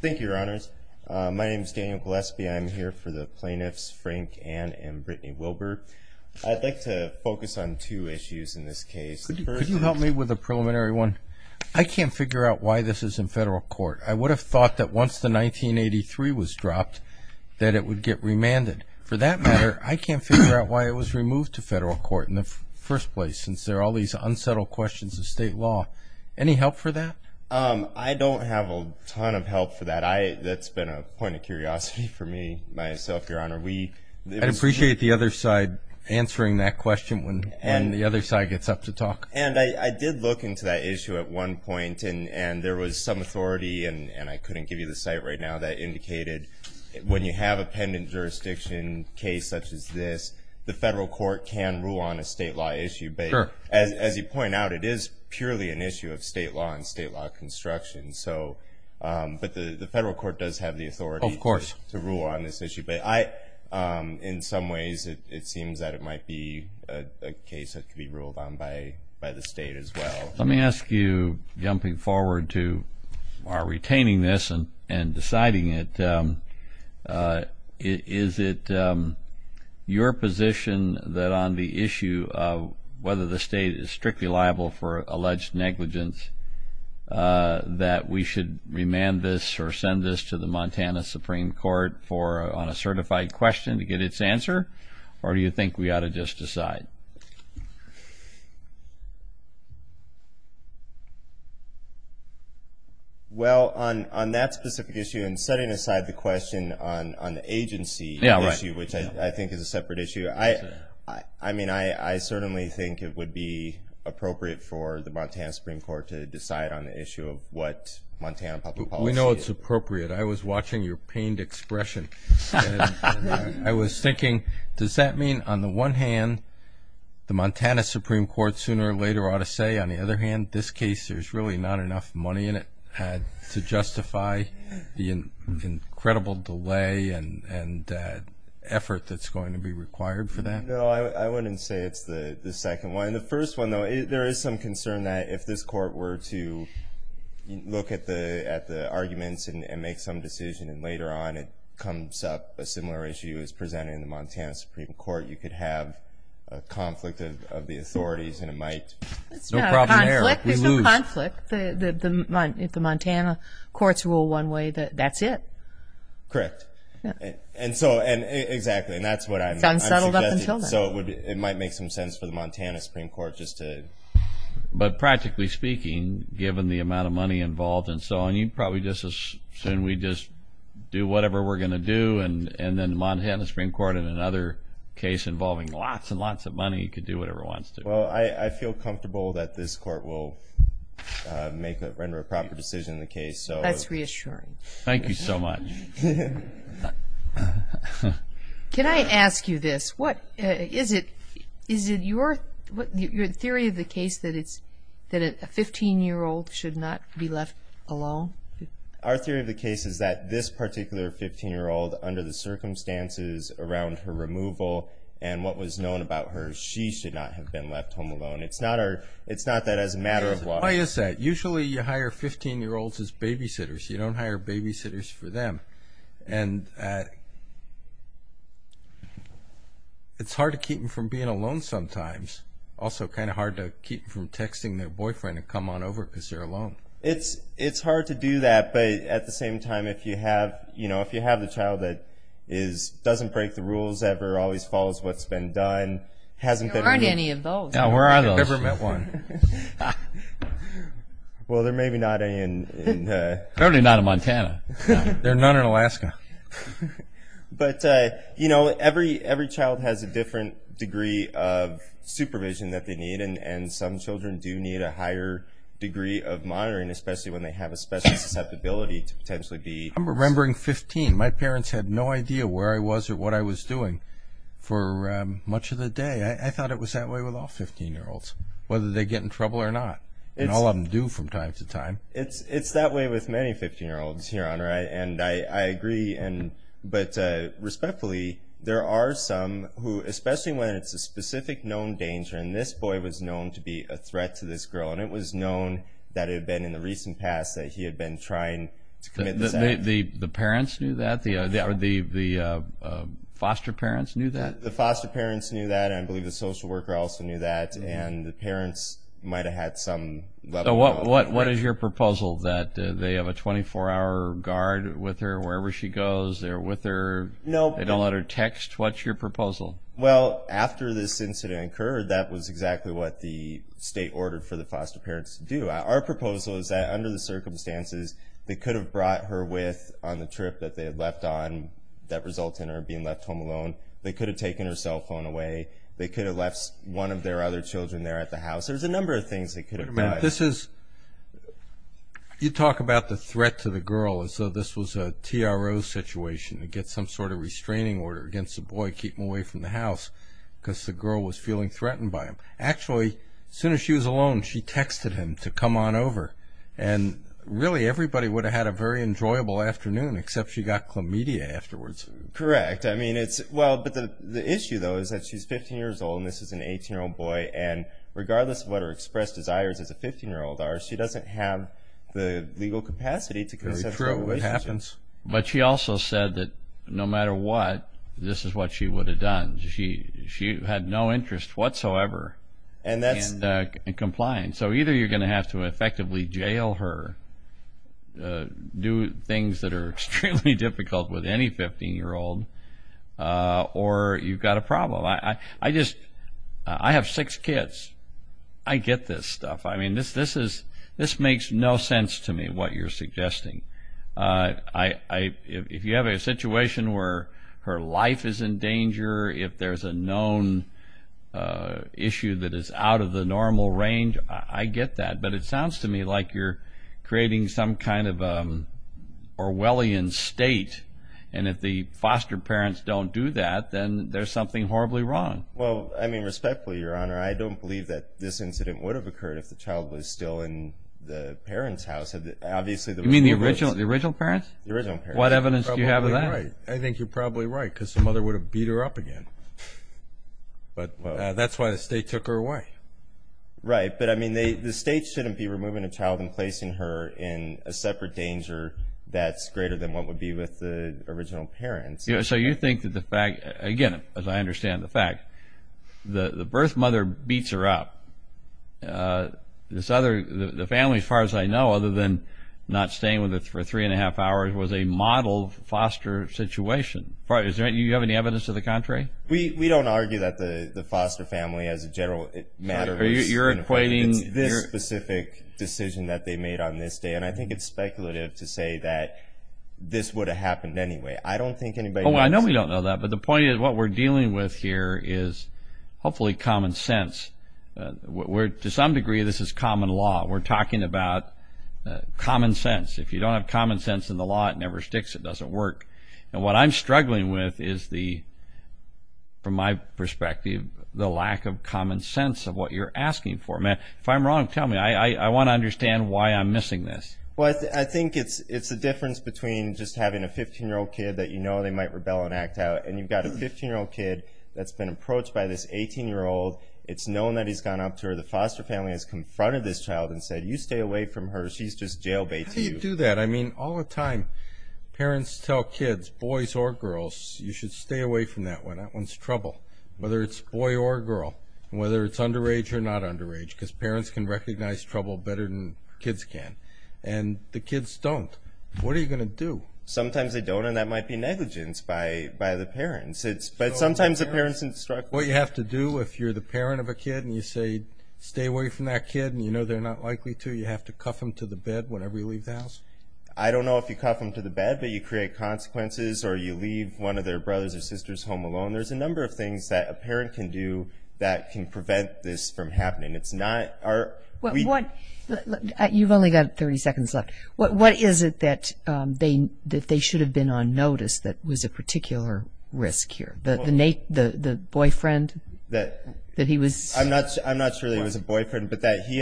Thank you, Your Honors. My name is Daniel Gillespie. I am here for the plaintiffs, Frank Ann and Brittany Wilbur. I'd like to focus on two issues in this case. Could you help me with a preliminary one? I can't figure out why this is in federal court. I would have thought that once the 1983 was dropped that it would get remanded. For that matter, I can't figure out why it was removed to federal court in the first place, since there are all these unsettled questions of state law. Any help for that? I don't have a ton of help for that. That's been a point of curiosity for me, myself, Your Honor. I'd appreciate the other side answering that question when the other side gets up to talk. And I did look into that issue at one point, and there was some authority, and I couldn't give you the site right now, that indicated when you have a pendent jurisdiction case such as this, the federal court can rule on a state law issue. As you point out, it is purely an issue of state law and state law construction. But the federal court does have the authority to rule on this issue. But in some ways it seems that it might be a case that could be ruled on by the state as well. Let me ask you, jumping forward to our retaining this and deciding it, is it your position that on the issue of whether the state is strictly liable for alleged negligence, that we should remand this or send this to the Montana Supreme Court on a certified question to get its answer? Or do you think we ought to just decide? Well, on that specific issue, and setting aside the question on the agency issue, which I think is a separate issue, I mean, I certainly think it would be appropriate for the Montana Supreme Court to decide on the issue of what Montana public policy is. We know it's appropriate. I was watching your pained expression, and I was thinking, does that mean, on the one hand, the Montana Supreme Court sooner or later ought to say, on the other hand, this case there's really not enough money in it to justify the incredible delay and effort that's going to be required for that? No, I wouldn't say it's the second one. The first one, though, there is some concern that if this court were to look at the arguments and make some decision and later on it comes up a similar issue as presented in the Montana Supreme Court, you could have a conflict of the authorities, and it might. No problem there. There's no conflict. If the Montana courts rule one way, that's it. Correct. And so, exactly, and that's what I'm suggesting. It's unsettled up until then. So it might make some sense for the Montana Supreme Court just to... Soon we just do whatever we're going to do, and then the Montana Supreme Court in another case involving lots and lots of money could do whatever it wants to. Well, I feel comfortable that this court will render a proper decision in the case. That's reassuring. Thank you so much. Can I ask you this? Is it your theory of the case that a 15-year-old should not be left alone? Our theory of the case is that this particular 15-year-old, under the circumstances around her removal and what was known about her, she should not have been left home alone. It's not that as a matter of law... Why is that? Usually you hire 15-year-olds as babysitters. You don't hire babysitters for them. It's hard to keep them from being alone sometimes. Also kind of hard to keep them from texting their boyfriend and come on over because they're alone. It's hard to do that, but at the same time, if you have the child that doesn't break the rules ever, always follows what's been done, hasn't been removed. There aren't any of those. No, where are those? I've never met one. Well, there may be not any in... Apparently not in Montana. There are none in Alaska. But every child has a different degree of supervision that they need, and some children do need a higher degree of monitoring, especially when they have a special susceptibility to potentially be... I'm remembering 15. My parents had no idea where I was or what I was doing for much of the day. I thought it was that way with all 15-year-olds, whether they get in trouble or not, and all of them do from time to time. It's that way with many 15-year-olds, Your Honor, and I agree. But respectfully, there are some who, especially when it's a specific known danger, and this boy was known to be a threat to this girl, and it was known that it had been in the recent past that he had been trying to commit this act. The parents knew that? The foster parents knew that? The foster parents knew that, and I believe the social worker also knew that, and the parents might have had some level of... What is your proposal, that they have a 24-hour guard with her wherever she goes? They're with her? No. They don't let her text? What's your proposal? Well, after this incident occurred, that was exactly what the state ordered for the foster parents to do. Our proposal is that under the circumstances, they could have brought her with on the trip that they had left on that resulted in her being left home alone. They could have taken her cell phone away. They could have left one of their other children there at the house. There's a number of things they could have done. Wait a minute. You talk about the threat to the girl as though this was a TRO situation, to get some sort of restraining order against the boy keeping away from the house because the girl was feeling threatened by him. Actually, as soon as she was alone, she texted him to come on over, and really everybody would have had a very enjoyable afternoon, except she got chlamydia afterwards. Correct. Well, but the issue, though, is that she's 15 years old, and this is an 18-year-old boy, and regardless of what her expressed desires as a 15-year-old are, she doesn't have the legal capacity to consent to a relationship. But she also said that no matter what, this is what she would have done. She had no interest whatsoever in compliance. So either you're going to have to effectively jail her, do things that are extremely difficult with any 15-year-old, or you've got a problem. I have six kids. I get this stuff. I mean, this makes no sense to me, what you're suggesting. If you have a situation where her life is in danger, if there's a known issue that is out of the normal range, I get that. But it sounds to me like you're creating some kind of Orwellian state, and if the foster parents don't do that, then there's something horribly wrong. Well, I mean, respectfully, Your Honor, I don't believe that this incident would have occurred if the child was still in the parents' house. You mean the original parents? The original parents. What evidence do you have of that? I think you're probably right, because the mother would have beat her up again. But that's why the state took her away. Right. But, I mean, the state shouldn't be removing a child and placing her in a separate danger that's greater than what would be with the original parents. So you think that the fact, again, as I understand the fact, the birth mother beats her up. The family, as far as I know, other than not staying with her for three-and-a-half hours, was a model foster situation. Do you have any evidence to the contrary? We don't argue that the foster family, as a general matter, is this specific decision that they made on this day, and I think it's speculative to say that this would have happened anyway. I don't think anybody knows. Well, I know we don't know that, but the point is what we're dealing with here is hopefully common sense. To some degree, this is common law. We're talking about common sense. If you don't have common sense in the law, it never sticks. It doesn't work. And what I'm struggling with is, from my perspective, the lack of common sense of what you're asking for. If I'm wrong, tell me. I want to understand why I'm missing this. Well, I think it's the difference between just having a 15-year-old kid that you know they might rebel and act out, and you've got a 15-year-old kid that's been approached by this 18-year-old. It's known that he's gone up to her. The foster family has confronted this child and said, you stay away from her, she's just jail bait to you. How do you do that? I mean, all the time parents tell kids, boys or girls, you should stay away from that one. That one's trouble, whether it's boy or girl, whether it's underage or not underage, because parents can recognize trouble better than kids can. And the kids don't. What are you going to do? Sometimes they don't, and that might be negligence by the parents. But sometimes the parents instruct them. What you have to do if you're the parent of a kid and you say stay away from that kid and you know they're not likely to, do you have to cuff them to the bed whenever you leave the house? I don't know if you cuff them to the bed, but you create consequences or you leave one of their brothers or sisters home alone. There's a number of things that a parent can do that can prevent this from happening. You've only got 30 seconds left. What is it that they should have been on notice that was a particular risk here? The boyfriend? I'm not sure that he was a boyfriend, but that he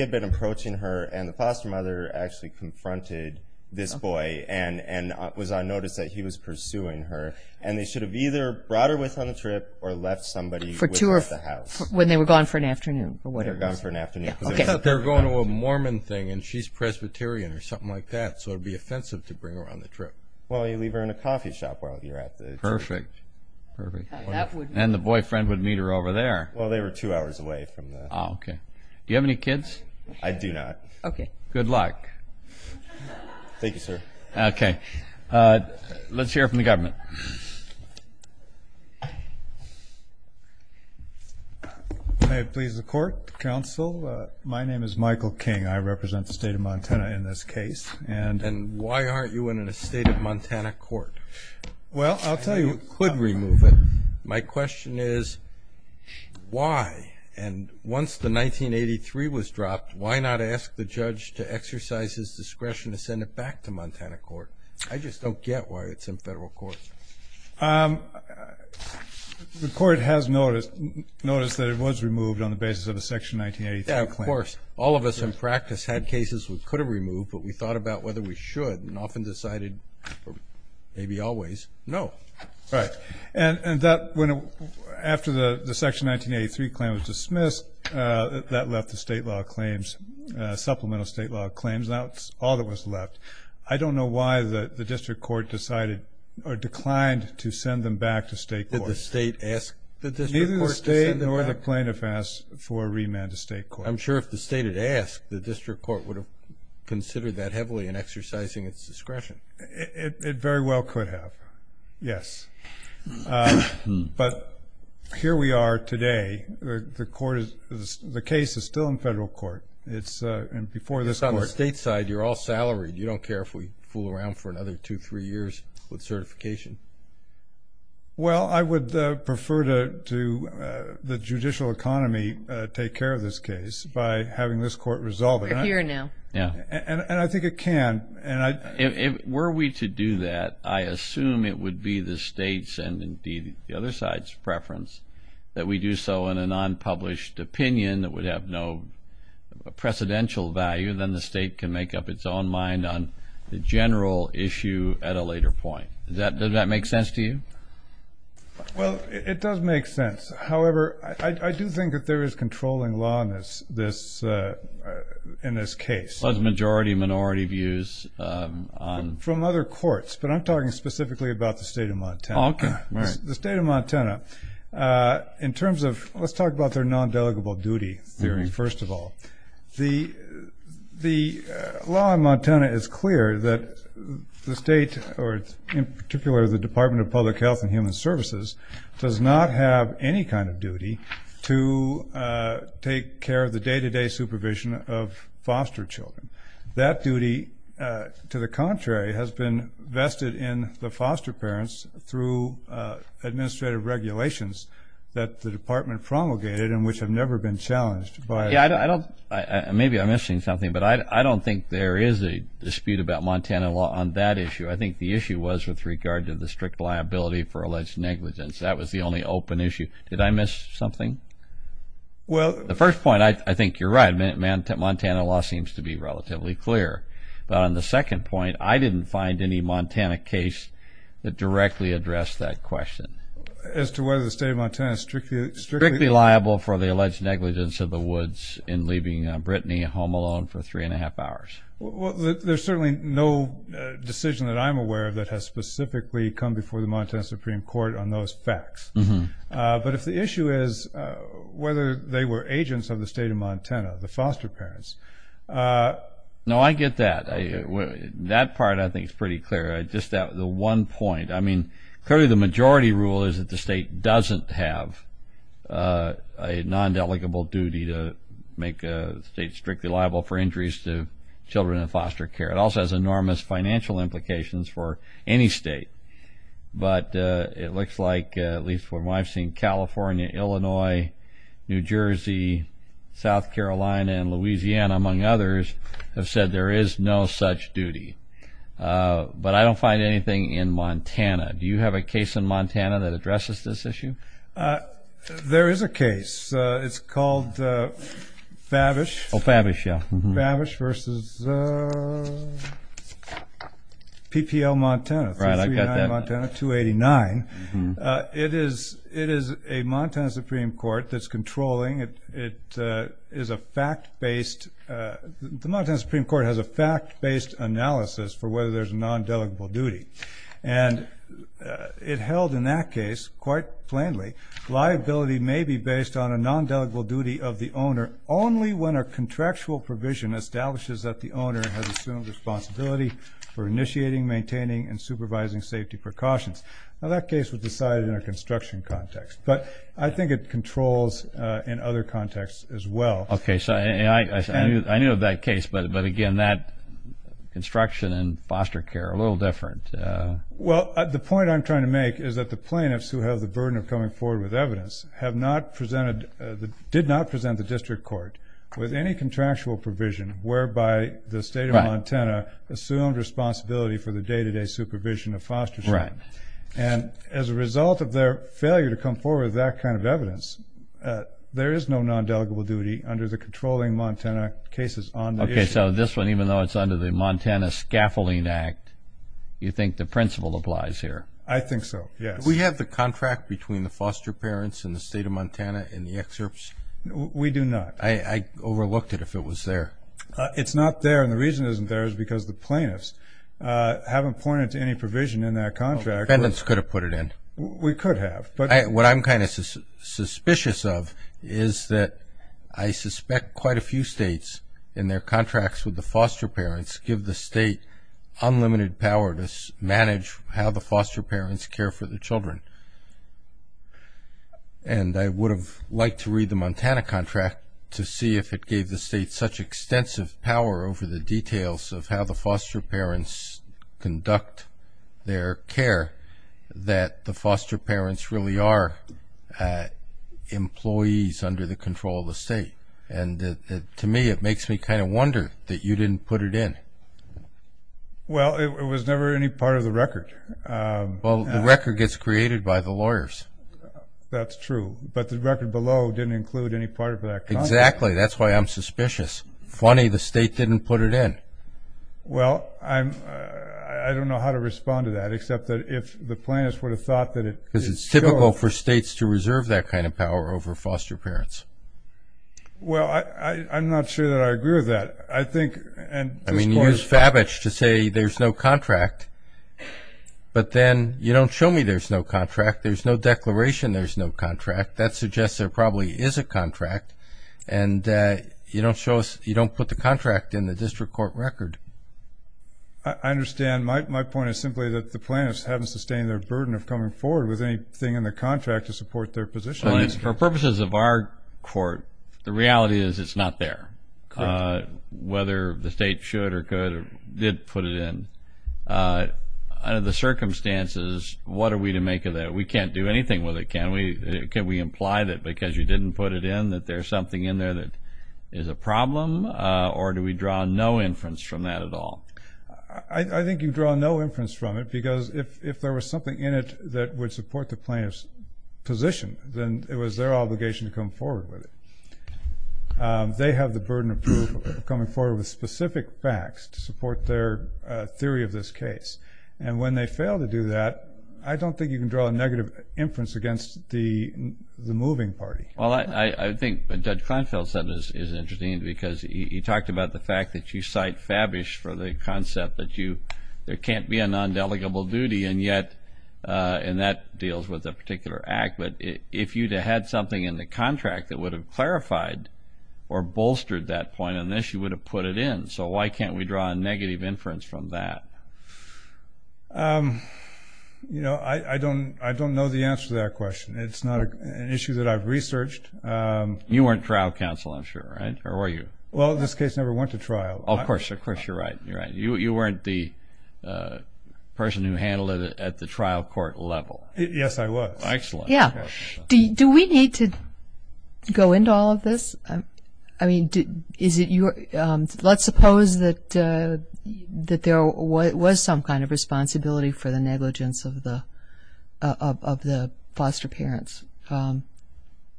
had been approaching her and the foster mother actually confronted this boy and was on notice that he was pursuing her, and they should have either brought her with on the trip or left somebody with at the house. When they were gone for an afternoon or whatever. They were gone for an afternoon. They're going to a Mormon thing and she's Presbyterian or something like that, so it would be offensive to bring her on the trip. Well, you leave her in a coffee shop while you're at the trip. Perfect, perfect. And the boyfriend would meet her over there. Well, they were two hours away from that. Okay. Do you have any kids? I do not. Okay. Good luck. Thank you, sir. Okay. Let's hear from the government. May it please the Court, Counsel, my name is Michael King. I represent the state of Montana in this case. And why aren't you in a state of Montana court? Well, I'll tell you. You could remove it. My question is why? And once the 1983 was dropped, why not ask the judge to exercise his discretion to send it back to Montana court? I just don't get why it's in federal court. The Court has noticed that it was removed on the basis of a Section 1983 claim. Yeah, of course. All of us in practice had cases we could have removed, but we thought about whether we should and often decided, maybe always, no. Right. And after the Section 1983 claim was dismissed, that left the state law claims, supplemental state law claims. That's all that was left. I don't know why the district court decided or declined to send them back to state court. Did the state ask the district court to send them back? Neither the state nor the plaintiff asked for a remand to state court. I'm sure if the state had asked, the district court would have considered that heavily in exercising its discretion. It very well could have, yes. But here we are today. The case is still in federal court. It's on the state side. You're all salaried. You don't care if we fool around for another two, three years with certification. Well, I would prefer to the judicial economy take care of this case by having this court resolve it. We're here now. And I think it can. Were we to do that, I assume it would be the state's and, indeed, the other side's preference that we do so in a non-published opinion that would have no precedential value. Then the state can make up its own mind on the general issue at a later point. Does that make sense to you? Well, it does make sense. However, I do think that there is controlling law in this case. Majority, minority views. From other courts, but I'm talking specifically about the state of Montana. Okay. The state of Montana, in terms of let's talk about their non-delegable duty theory first of all. The law in Montana is clear that the state, or in particular the Department of Public Health and Human Services, does not have any kind of duty to take care of the day-to-day supervision of foster children. That duty, to the contrary, has been vested in the foster parents through administrative regulations that the department promulgated and which have never been challenged by it. Maybe I'm missing something, but I don't think there is a dispute about Montana law on that issue. I think the issue was with regard to the strict liability for alleged negligence. That was the only open issue. Did I miss something? Well... The first point, I think you're right. Montana law seems to be relatively clear. But on the second point, I didn't find any Montana case that directly addressed that question. As to whether the state of Montana strictly... Strictly liable for the alleged negligence of the Woods in leaving Brittany home alone for three and a half hours. Well, there's certainly no decision that I'm aware of that has specifically come before the Montana Supreme Court on those facts. But if the issue is whether they were agents of the state of Montana, the foster parents... No, I get that. That part, I think, is pretty clear. Just that one point. I mean, clearly the majority rule is that the state doesn't have a non-delegable duty to make a state strictly liable for injuries to children in foster care. It also has enormous financial implications for any state. But it looks like, at least from what I've seen, California, Illinois, New Jersey, South Carolina, and Louisiana, among others, have said there is no such duty. But I don't find anything in Montana. Do you have a case in Montana that addresses this issue? There is a case. It's called Favish v. PPL Montana, 239 Montana, 289. It is a Montana Supreme Court that's controlling. It is a fact-based... The Montana Supreme Court has a fact-based analysis for whether there's a non-delegable duty. And it held in that case, quite plainly, liability may be based on a non-delegable duty of the owner only when a contractual provision establishes that the owner has assumed responsibility for initiating, maintaining, and supervising safety precautions. Now, that case was decided in a construction context. But I think it controls in other contexts as well. Okay, so I knew of that case. But, again, that construction and foster care are a little different. Well, the point I'm trying to make is that the plaintiffs who have the burden of coming forward with evidence did not present the district court with any contractual provision whereby the state of Montana assumed responsibility for the day-to-day supervision of foster care. And as a result of their failure to come forward with that kind of evidence, there is no non-delegable duty under the controlling Montana cases on the issue. Okay, so this one, even though it's under the Montana Scaffolding Act, you think the principle applies here? I think so, yes. Do we have the contract between the foster parents and the state of Montana in the excerpts? We do not. I overlooked it if it was there. It's not there, and the reason it isn't there is because the plaintiffs haven't pointed to any provision in that contract. The defendants could have put it in. We could have. What I'm kind of suspicious of is that I suspect quite a few states in their contracts with the foster parents give the state unlimited power to manage how the foster parents care for the children. And I would have liked to read the Montana contract to see if it gave the state such extensive power over the details of how the foster parents conduct their care that the foster parents really are employees under the control of the state. And to me it makes me kind of wonder that you didn't put it in. Well, it was never any part of the record. Well, the record gets created by the lawyers. That's true. But the record below didn't include any part of that contract. Exactly. That's why I'm suspicious. Funny the state didn't put it in. Well, I don't know how to respond to that, except that if the plaintiffs would have thought that it could go. Because it's typical for states to reserve that kind of power over foster parents. Well, I'm not sure that I agree with that. I mean, you use Favich to say there's no contract, but then you don't show me there's no contract. There's no declaration there's no contract. That suggests there probably is a contract, and you don't put the contract in the district court record. I understand. My point is simply that the plaintiffs haven't sustained their burden of coming forward with anything in the contract to support their position. For purposes of our court, the reality is it's not there, whether the state should or could or did put it in. Under the circumstances, what are we to make of that? We can't do anything with it, can we? Can we imply that because you didn't put it in that there's something in there that is a problem, or do we draw no inference from that at all? I think you draw no inference from it, because if there was something in it that would support the plaintiff's position, then it was their obligation to come forward with it. They have the burden of coming forward with specific facts to support their theory of this case, and when they fail to do that, I don't think you can draw a negative inference against the moving party. Well, I think what Judge Kleinfeld said is interesting, because he talked about the fact that you cite Favich for the concept that there can't be an undelegable duty, and that deals with a particular act, but if you had something in the contract that would have clarified or bolstered that point on this, you would have put it in. So why can't we draw a negative inference from that? I don't know the answer to that question. It's not an issue that I've researched. You weren't trial counsel, I'm sure, right? Or were you? Well, this case never went to trial. Of course you're right. You're right. You weren't the person who handled it at the trial court level. Yes, I was. Excellent. Yeah. Do we need to go into all of this? I mean, let's suppose that there was some kind of responsibility for the negligence of the foster parents.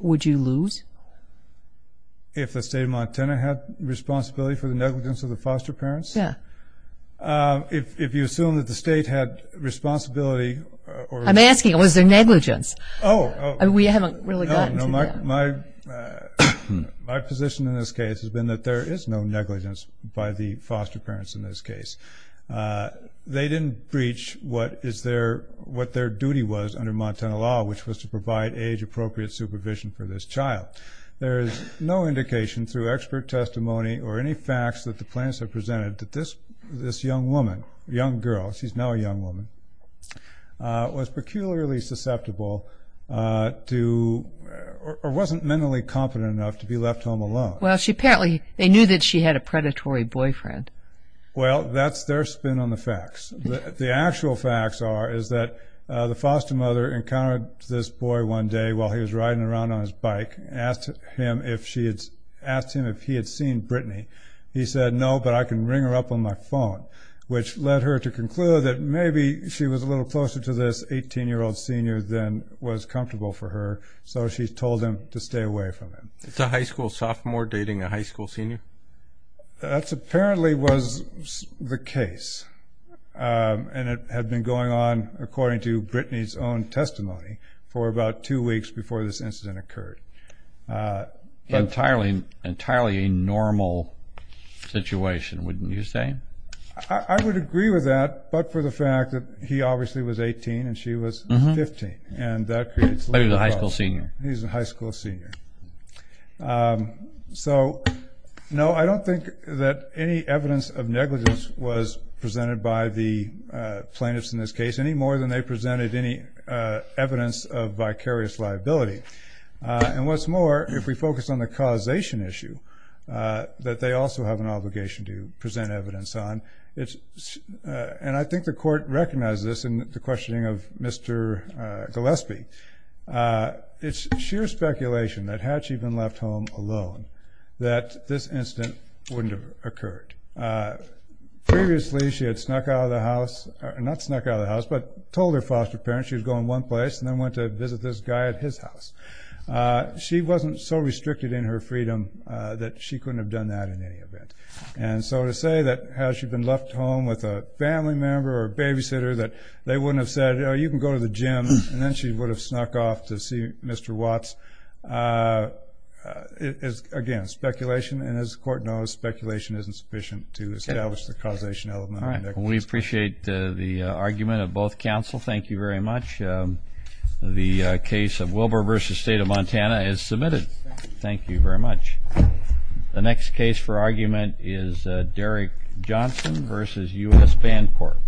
Would you lose? If the state of Montana had responsibility for the negligence of the foster parents? Yeah. If you assume that the state had responsibility? I'm asking, was there negligence? Oh. We haven't really gotten to that. My position in this case has been that there is no negligence by the foster parents in this case. They didn't breach what their duty was under Montana law, which was to provide age-appropriate supervision for this child. There is no indication through expert testimony or any facts that the plaintiffs have presented that this young woman, young girl, she's now a young woman, was peculiarly susceptible to or wasn't mentally competent enough to be left home alone. Well, apparently they knew that she had a predatory boyfriend. Well, that's their spin on the facts. The actual facts are that the foster mother encountered this boy one day while he was riding around on his bike and asked him if he had seen Brittany. He said, no, but I can ring her up on my phone, which led her to conclude that maybe she was a little closer to this 18-year-old senior than was comfortable for her, so she told him to stay away from him. Is a high school sophomore dating a high school senior? That apparently was the case, and it had been going on according to Brittany's own testimony for about two weeks before this incident occurred. Entirely normal situation, wouldn't you say? I would agree with that, but for the fact that he obviously was 18 and she was 15, and that creates a little problem. Maybe the high school senior. He's a high school senior. So, no, I don't think that any evidence of negligence was presented by the plaintiffs in this case, any more than they presented any evidence of vicarious liability. And what's more, if we focus on the causation issue that they also have an obligation to present evidence on, and I think the court recognized this in the questioning of Mr. Gillespie, it's sheer speculation that had she been left home alone that this incident wouldn't have occurred. Previously, she had snuck out of the house, not snuck out of the house, but told her foster parents she was going one place and then went to visit this guy at his house. She wasn't so restricted in her freedom that she couldn't have done that in any event. And so to say that had she been left home with a family member or a babysitter that they wouldn't have said, you can go to the gym, and then she would have snuck off to see Mr. Watts is, again, speculation. And as the court knows, speculation isn't sufficient to establish the causation element of negligence. We appreciate the argument of both counsel. Thank you very much. The case of Wilbur v. State of Montana is submitted. Thank you very much. The next case for argument is Derrick Johnson v. U.S. Bancorp.